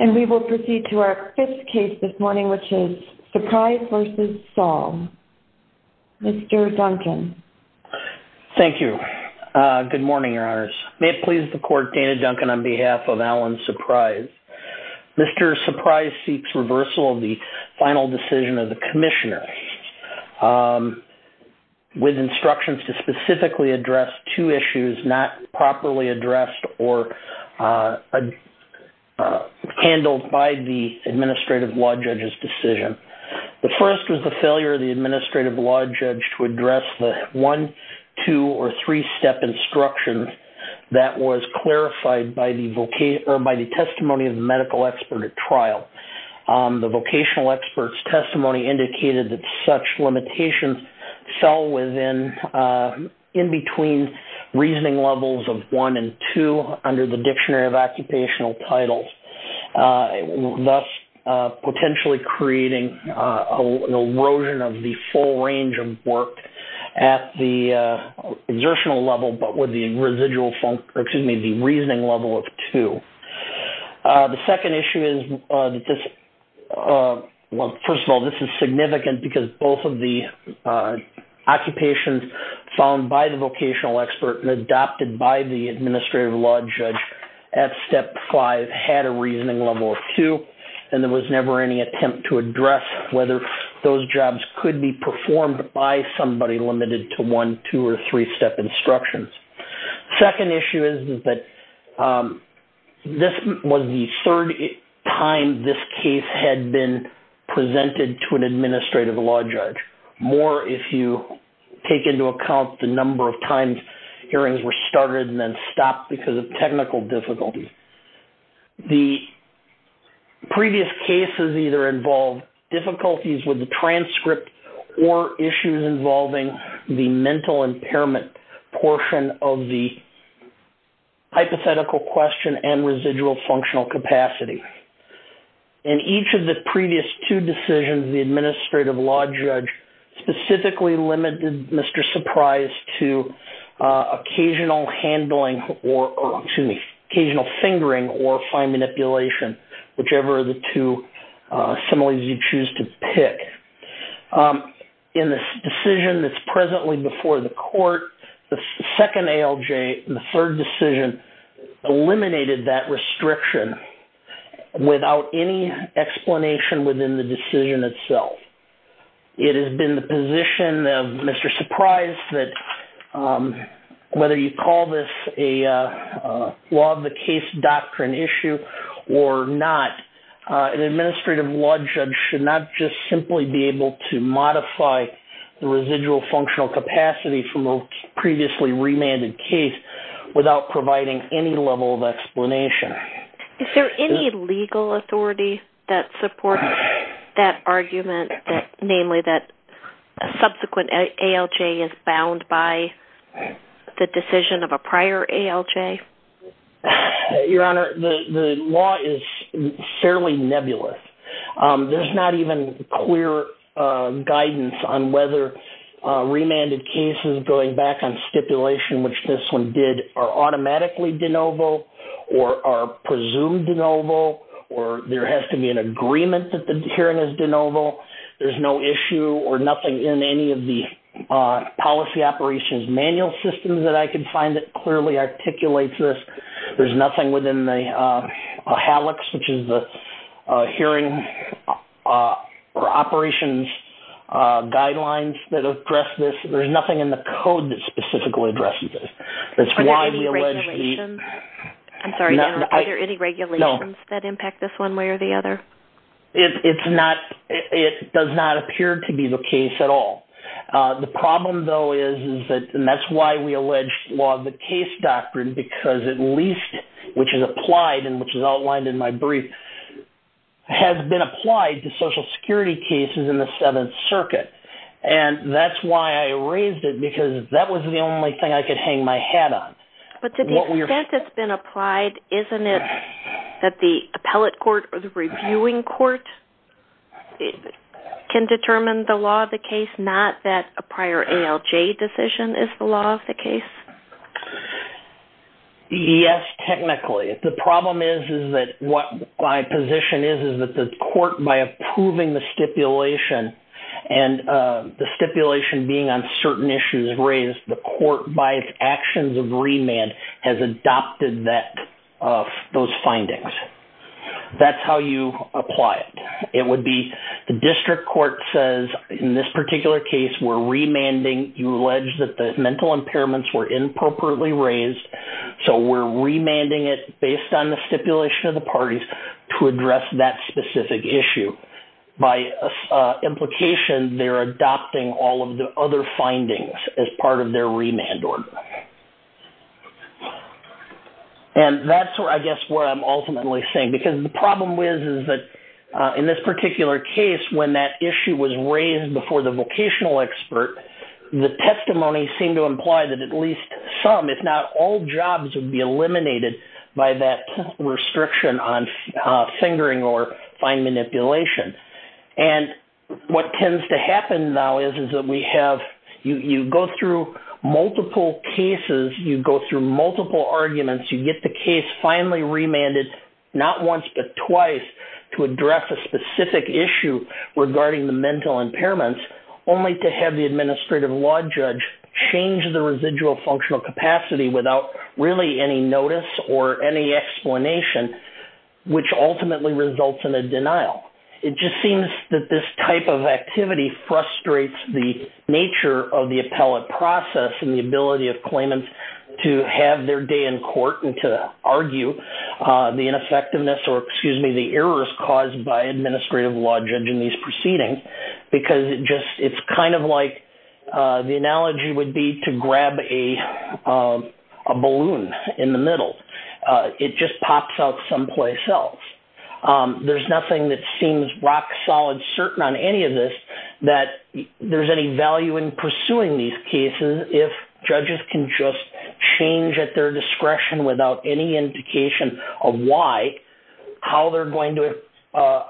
And we will proceed to our fifth case this morning, which is Surprise v. Saul. Mr. Duncan. Thank you. Good morning, Your Honors. May it please the Court, Dana Duncan on behalf of Allen Surprise. Mr. Surprise seeks reversal of the final decision of the Commissioner with instructions to specifically address two issues not properly addressed or handled by the Administrative Law Judge's decision. The first was the failure of the Administrative Law Judge to address the one, two, or three-step instruction that was clarified by the testimony of the medical expert at trial. The vocational expert's testimony indicated that such limitations fell in between reasoning levels of one and two under the Dictionary of Occupational Titles, thus potentially creating an erosion of the full range of work at the exertional level but with the reasoning level of two. The second issue is, well, first of all, this is significant because both of the occupations found by the vocational expert and adopted by the Administrative Law Judge at step five had a reasoning level of two and there was never any attempt to address whether those jobs could be performed by somebody limited to one, two, or three-step instructions. Second issue is that this was the third time this case had been presented to an Administrative Law Judge, more if you take into account the number of times hearings were started and then stopped because of technical difficulties. The previous cases either involved difficulties with the transcript or issues involving the mental impairment portion of the hypothetical question and residual functional capacity. In each of the previous two decisions, the Administrative Law Judge specifically limited Mr. Surprise to occasional fingering or fine manipulation, whichever of the two similes you choose to pick. In the decision that's presently before the court, the second ALJ and the third decision eliminated that restriction without any explanation within the decision itself. It has been the position of Mr. Surprise that whether you call this a law of the case doctrine issue or not, an Administrative Law Judge should not just simply be able to modify the residual functional capacity from a previously remanded case without providing any level of explanation. Is there any legal authority that supports that argument, namely that a subsequent ALJ is bound by the decision of a prior ALJ? Your Honor, the law is fairly nebulous. There's not even clear guidance on whether remanded cases going back on stipulation, which this one did, are automatically de novo or are presumed de novo, or there has to be an agreement that the hearing is de novo. There's no issue or nothing in any of the policy operations manual systems that I can find that clearly articulates this. There's nothing within the HALEX, which is the Hearing Operations Guidelines that address this. There's nothing in the code that specifically addresses this. Is there any regulations that impact this one way or the other? It does not appear to be the case at all. The problem, though, is that, and that's why we allege law of the case doctrine, because at least, which is applied and which is outlined in my brief, has been applied to Social Security cases in the Seventh Circuit. And that's why I raised it, because that was the only thing I could hang my hat on. But to the extent it's been applied, isn't it that the appellate court or the reviewing court can determine the law of the case, not that a prior ALJ decision is the law of the case? Yes, technically. The problem is that what my position is, is that the court, by approving the stipulation and the stipulation being on certain issues raised, the court, by its actions of remand, has adopted those findings. That's how you apply it. It would be the district court says, in this particular case, we're remanding. You allege that the mental impairments were inappropriately raised, so we're remanding it based on the stipulation of the parties to address that specific issue. By implication, they're adopting all of the other findings as part of their remand order. And that's, I guess, what I'm ultimately saying. Because the problem is, is that in this particular case, when that issue was raised before the vocational expert, the testimony seemed to imply that at least some, if not all, jobs would be eliminated by that restriction on fingering or fine manipulation. And what tends to happen now is that we have, you go through multiple cases, you go through multiple arguments, you get the case finally remanded, not once but twice, to address a specific issue regarding the mental impairments, only to have the administrative law judge change the residual functional capacity without really any notice or any explanation, which ultimately results in a denial. It just seems that this type of activity frustrates the nature of the appellate process and the ability of claimants to have their day in court and to argue the ineffectiveness or, excuse me, the errors caused by administrative law judge in these proceedings. Because it just, it's kind of like the analogy would be to grab a balloon in the middle. It just pops out someplace else. There's nothing that seems rock solid certain on any of this that there's any value in pursuing these cases if judges can just change at their discretion without any indication of why, how they're going to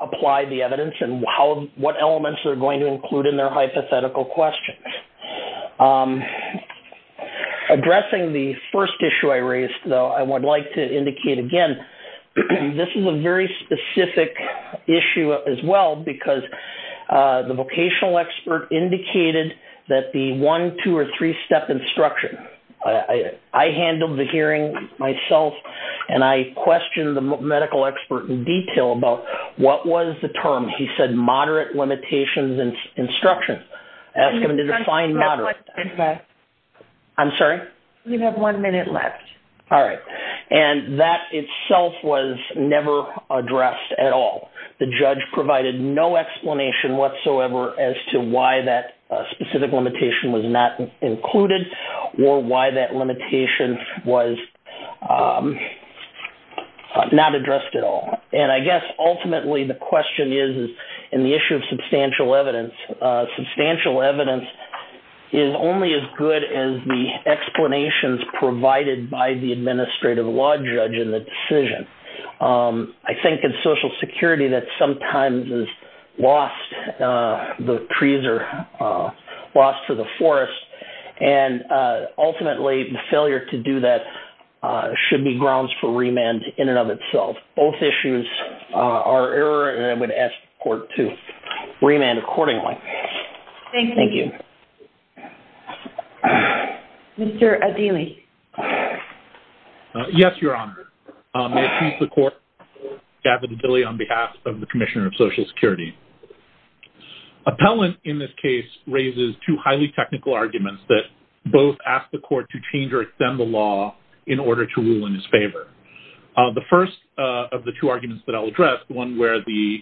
apply the evidence and what elements they're going to include in their hypothetical questions. Addressing the first issue I raised, though, I would like to indicate again, this is a very specific issue as well because the vocational expert indicated that the one, two, or three-step instruction, I handled the hearing myself and I questioned the medical expert in detail about what was the term. He said moderate limitations instruction. Ask him to define moderate. I'm sorry? You have one minute left. All right. And that itself was never addressed at all. The judge provided no explanation whatsoever as to why that specific limitation was not included or why that limitation was not addressed at all. And I guess ultimately the question is in the issue of substantial evidence, substantial evidence is only as good as the explanations provided by the administrative law judge in the decision. I think in Social Security that sometimes is lost, the trees are lost to the forest, and ultimately the failure to do that should be grounds for remand in and of itself. Both issues are error and I would ask the court to remand accordingly. Thank you. Mr. Adili. Yes, Your Honor. May it please the Court, Gavin Adili on behalf of the Commissioner of Social Security. Appellant in this case raises two highly technical arguments that both ask the court to change or extend the law in order to rule in his favor. The first of the two arguments that I'll address, the one where the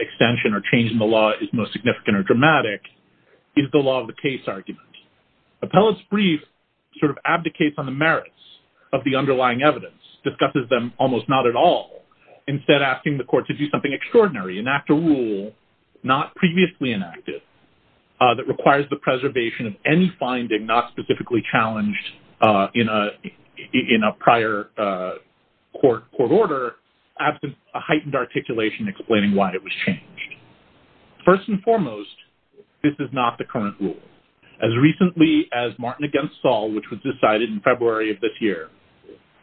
extension or change in the law is most significant or dramatic, is the law of the case argument. Appellant's brief sort of abdicates on the merits of the underlying evidence, discusses them almost not at all, instead asking the court to do something extraordinary, enact a rule not previously enacted that requires the preservation of any finding not specifically challenged in a prior court order, absent a heightened articulation explaining why it was changed. First and foremost, this is not the current rule. As recently as Martin v. Saul, which was decided in February of this year,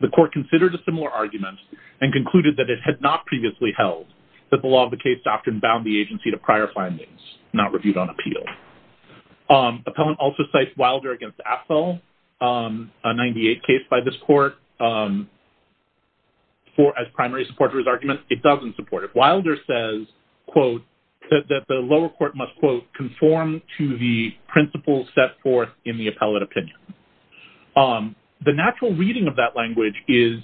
the court considered a similar argument and concluded that it had not previously held that the law of the case doctrine bound the agency to prior findings, not reviewed on appeal. Appellant also cites Wilder v. Afzal, a 98 case by this court, as primary supporter of his argument. It doesn't support it. Wilder says, quote, that the lower court must, quote, conform to the principles set forth in the appellate opinion. The natural reading of that language is,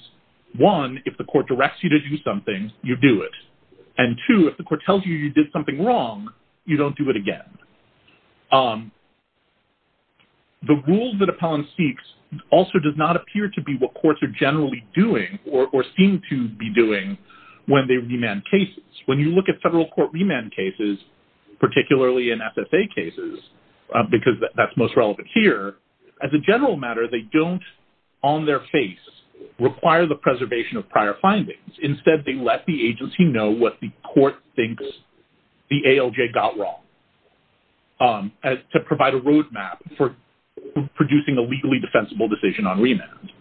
one, if the court directs you to do something, you do it, and two, if the court tells you you did something wrong, you don't do it again. The rule that Appellant seeks also does not appear to be what courts are generally doing or seem to be doing when they remand cases. When you look at federal court remand cases, particularly in SSA cases, because that's most relevant here, as a general matter, they don't, on their face, require the preservation of prior findings. Instead, they let the agency know what the court thinks the ALJ got wrong to provide a roadmap for producing a legally defensible decision on remand.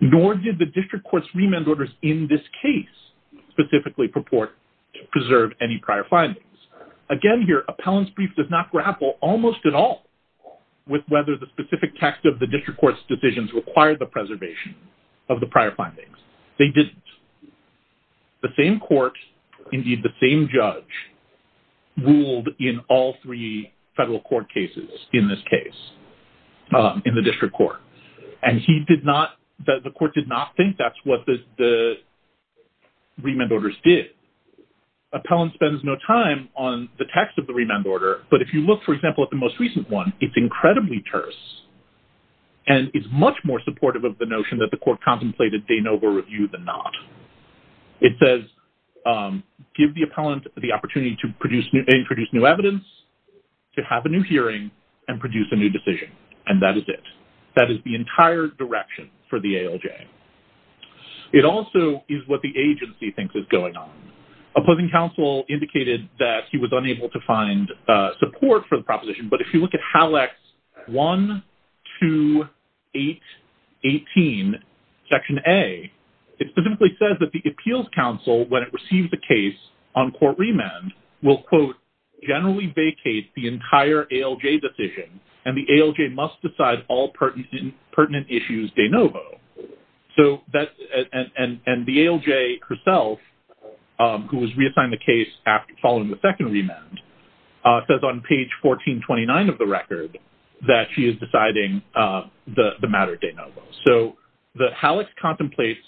Nor did the district court's remand orders in this case specifically purport to preserve any prior findings. Again here, Appellant's brief does not grapple almost at all with whether the specific text of the district court's decisions required the preservation of the prior findings. They didn't. The same court, indeed the same judge, ruled in all three federal court cases in this case, in the district court, and the court did not think that's what the remand orders did. Appellant spends no time on the text of the remand order, but if you look, for example, at the most recent one, it's incredibly terse and it's much more supportive of the notion that the court contemplated de novo review than not. It says, give the appellant the opportunity to introduce new evidence, to have a new hearing, and produce a new decision. And that is it. That is the entire direction for the ALJ. It also is what the agency thinks is going on. Opposing counsel indicated that he was unable to find support for the proposition, but if you look at HALAX 1, 2, 8, 18, Section A, it specifically says that the appeals counsel, when it receives a case on court remand, will, quote, generally vacate the entire ALJ decision, and the ALJ must decide all pertinent issues de novo. And the ALJ herself, who was reassigned the case following the second remand, says on page 1429 of the record that she is deciding the matter de novo. So the HALAX contemplates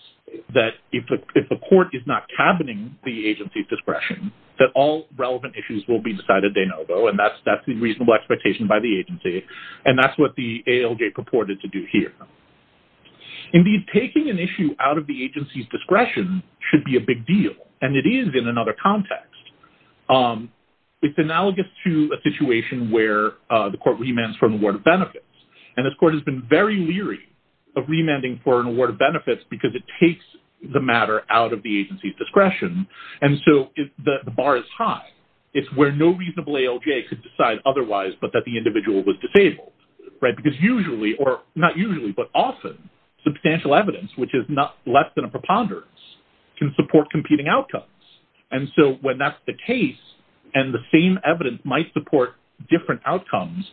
that if the court is not cabining the agency's discretion, that all relevant issues will be decided de novo, and that's the reasonable expectation by the agency, and that's what the ALJ purported to do here. Indeed, taking an issue out of the agency's discretion should be a big deal, and it is in another context. It's analogous to a situation where the court remands for an award of benefits, and this court has been very leery of remanding for an award of benefits because it takes the matter out of the agency's discretion, and so the bar is high. It's where no reasonable ALJ could decide otherwise but that the individual was disabled, right, because usually, or not usually but often, substantial evidence, which is less than a preponderance, can support competing outcomes. And so when that's the case and the same evidence might support different outcomes,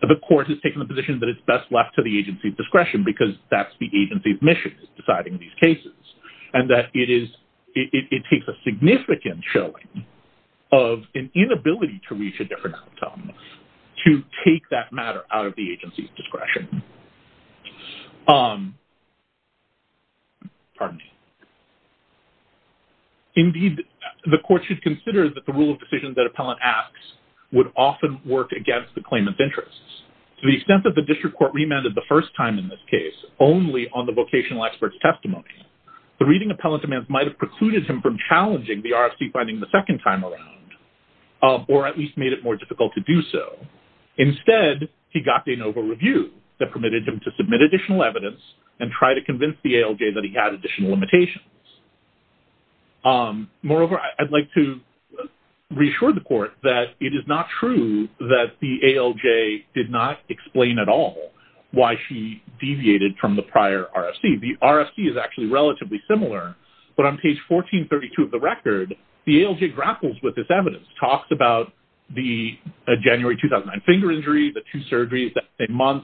the court has taken the position that it's best left to the agency's discretion because that's the agency's mission, deciding these cases, and that it takes a significant showing of an inability to reach a different outcome Pardon me. Indeed, the court should consider that the rule of decisions that appellant asks would often work against the claimant's interests. To the extent that the district court remanded the first time in this case only on the vocational expert's testimony, the reading appellant demands might have precluded him from challenging the RFC finding the second time around or at least made it more difficult to do so. Instead, he got de novo review that permitted him to submit additional evidence and try to convince the ALJ that he had additional limitations. Moreover, I'd like to reassure the court that it is not true that the ALJ did not explain at all why she deviated from the prior RFC. The RFC is actually relatively similar, but on page 1432 of the record, the ALJ grapples with this evidence, talks about the January 2009 finger injury, the two surgeries that same month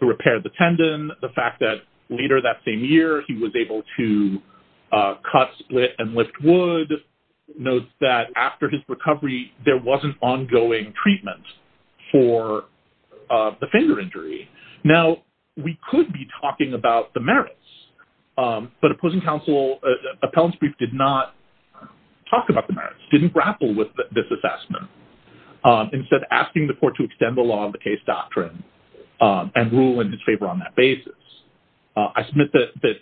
to repair the tendon, the fact that later that same year, he was able to cut, split, and lift wood, notes that after his recovery, there wasn't ongoing treatment for the finger injury. Now, we could be talking about the merits, but opposing counsel, appellant's brief did not talk about the merits, didn't grapple with this assessment. Instead, asking the court to extend the law of the case doctrine and rule in his favor on that basis. I submit that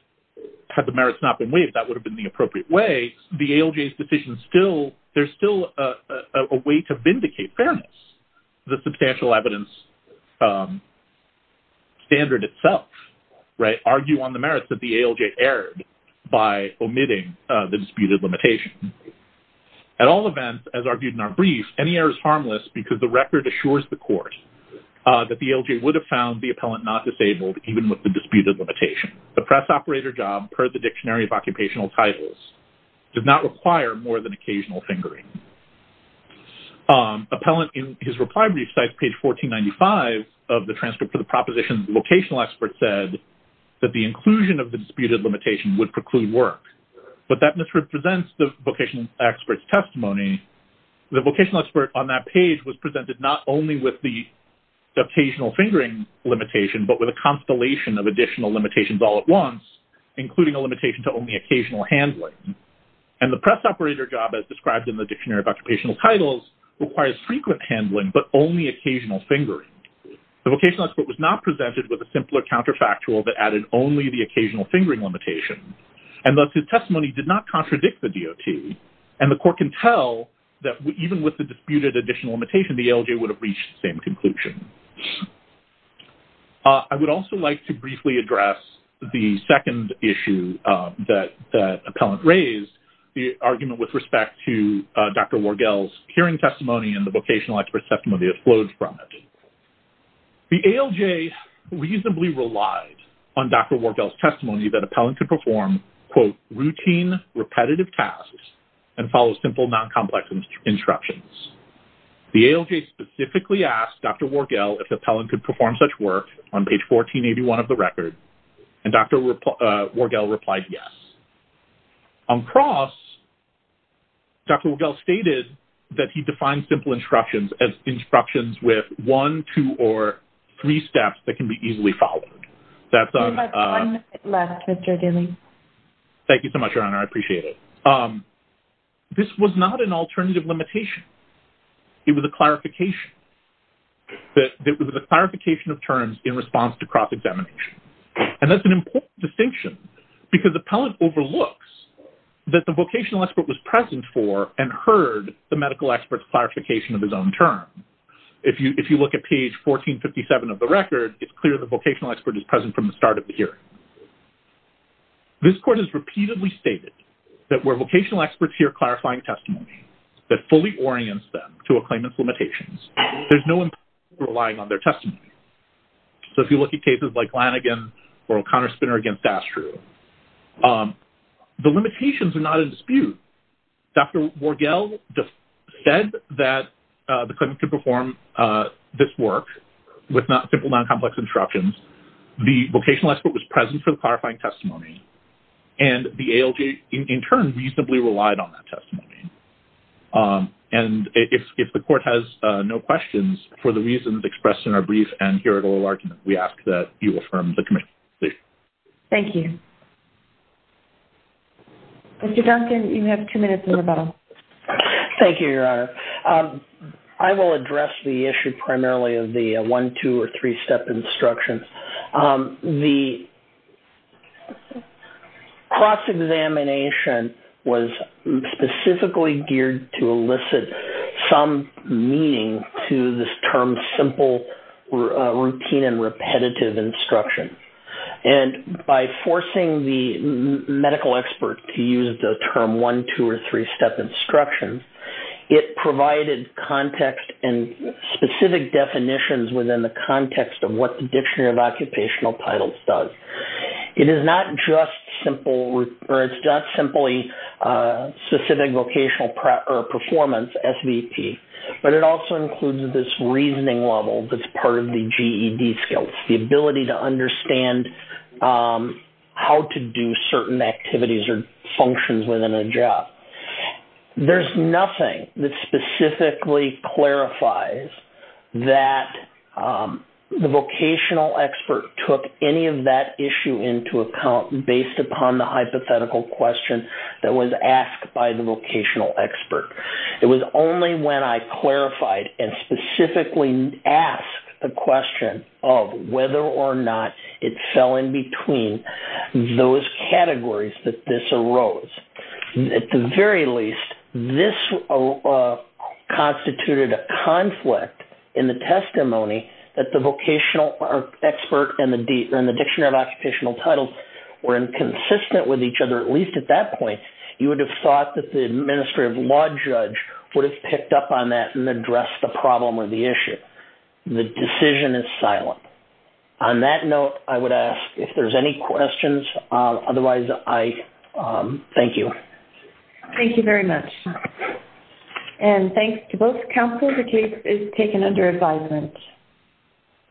had the merits not been waived, that would have been the appropriate way. The ALJ's decision still, there's still a way to vindicate fairness, the substantial evidence standard itself, right? The ALJ argued on the merits that the ALJ erred by omitting the disputed limitation. At all events, as argued in our brief, any error is harmless because the record assures the court that the ALJ would have found the appellant not disabled even with the disputed limitation. The press operator job per the Dictionary of Occupational Titles did not require more than occasional fingering. Appellant, in his reply brief, besides page 1495 of the transcript for the proposition, the vocational expert said that the inclusion of the disputed limitation would preclude work, but that misrepresents the vocational expert's testimony. The vocational expert on that page was presented not only with the dictational fingering limitation, but with a constellation of additional limitations all at once, including a limitation to only occasional handling. And the press operator job, as described in the Dictionary of Occupational Titles, requires frequent handling, but only occasional fingering. The vocational expert was not presented with a simpler counterfactual that added only the occasional fingering limitation, and thus his testimony did not contradict the DOT. And the court can tell that even with the disputed additional limitation, the ALJ would have reached the same conclusion. I would also like to briefly address the second issue that appellant raised, the argument with respect to Dr. Wargel's hearing testimony and the vocational expert's testimony that flowed from it. The ALJ reasonably relied on Dr. Wargel's testimony that appellant could perform quote, routine, repetitive tasks and follow simple, non-complex instructions. The ALJ specifically asked Dr. Wargel if appellant could perform such work on page 1481 of the record, and Dr. Wargel replied yes. On cross, Dr. Wargel stated that he defined simple instructions as instructions with one, two, or three steps that can be easily followed. We have one minute left, Mr. Daley. Thank you so much, Your Honor. I appreciate it. This was not an alternative limitation. It was a clarification of terms in response to cross-examination. And that's an important distinction because appellant overlooks that the vocational expert was present for and heard the medical expert's clarification of his own term. If you look at page 1457 of the record, it's clear the vocational expert is present from the start of the hearing. This court has repeatedly stated that where vocational experts hear clarifying testimony that fully orients them to a claimant's limitations, there's no implication of relying on their testimony. So if you look at cases like Lanigan or O'Connor-Spinner against Astru, the limitations are not in dispute. Dr. Wargel said that the claimant could perform this work with simple, non-complex instructions. The vocational expert was present for the clarifying testimony, and the ALJ in turn reasonably relied on that testimony. And if the court has no questions for the reasons expressed in our brief and here at oral argument, we ask that you affirm the comment. Thank you. Dr. Duncan, you have two minutes in rebuttal. Thank you, Your Honor. I will address the issue primarily of the one, two, or three-step instruction. The cross-examination was specifically geared to elicit some meaning to this term simple routine and repetitive instruction. And by forcing the medical expert to use the term one, two, or three-step instruction, it provided context and specific definitions within the context of what the Dictionary of Occupational Titles does. It is not just simply specific vocational performance, SVP, but it also includes this reasoning level that's part of the GED skills, the ability to understand how to do certain activities or functions within a job. There's nothing that specifically clarifies that the vocational expert took any of that issue into account based upon the hypothetical question that was asked by the vocational expert. It was only when I clarified and specifically asked the question of whether or not it fell in between those categories that this arose. At the very least, this constituted a conflict in the testimony that the vocational expert and the Dictionary of Occupational Titles were inconsistent with each other, or at least at that point, you would have thought that the administrative law judge would have picked up on that and addressed the problem or the issue. The decision is silent. On that note, I would ask if there's any questions. Otherwise, I thank you. Thank you very much. And thanks to both counsel. The case is taken under advisement.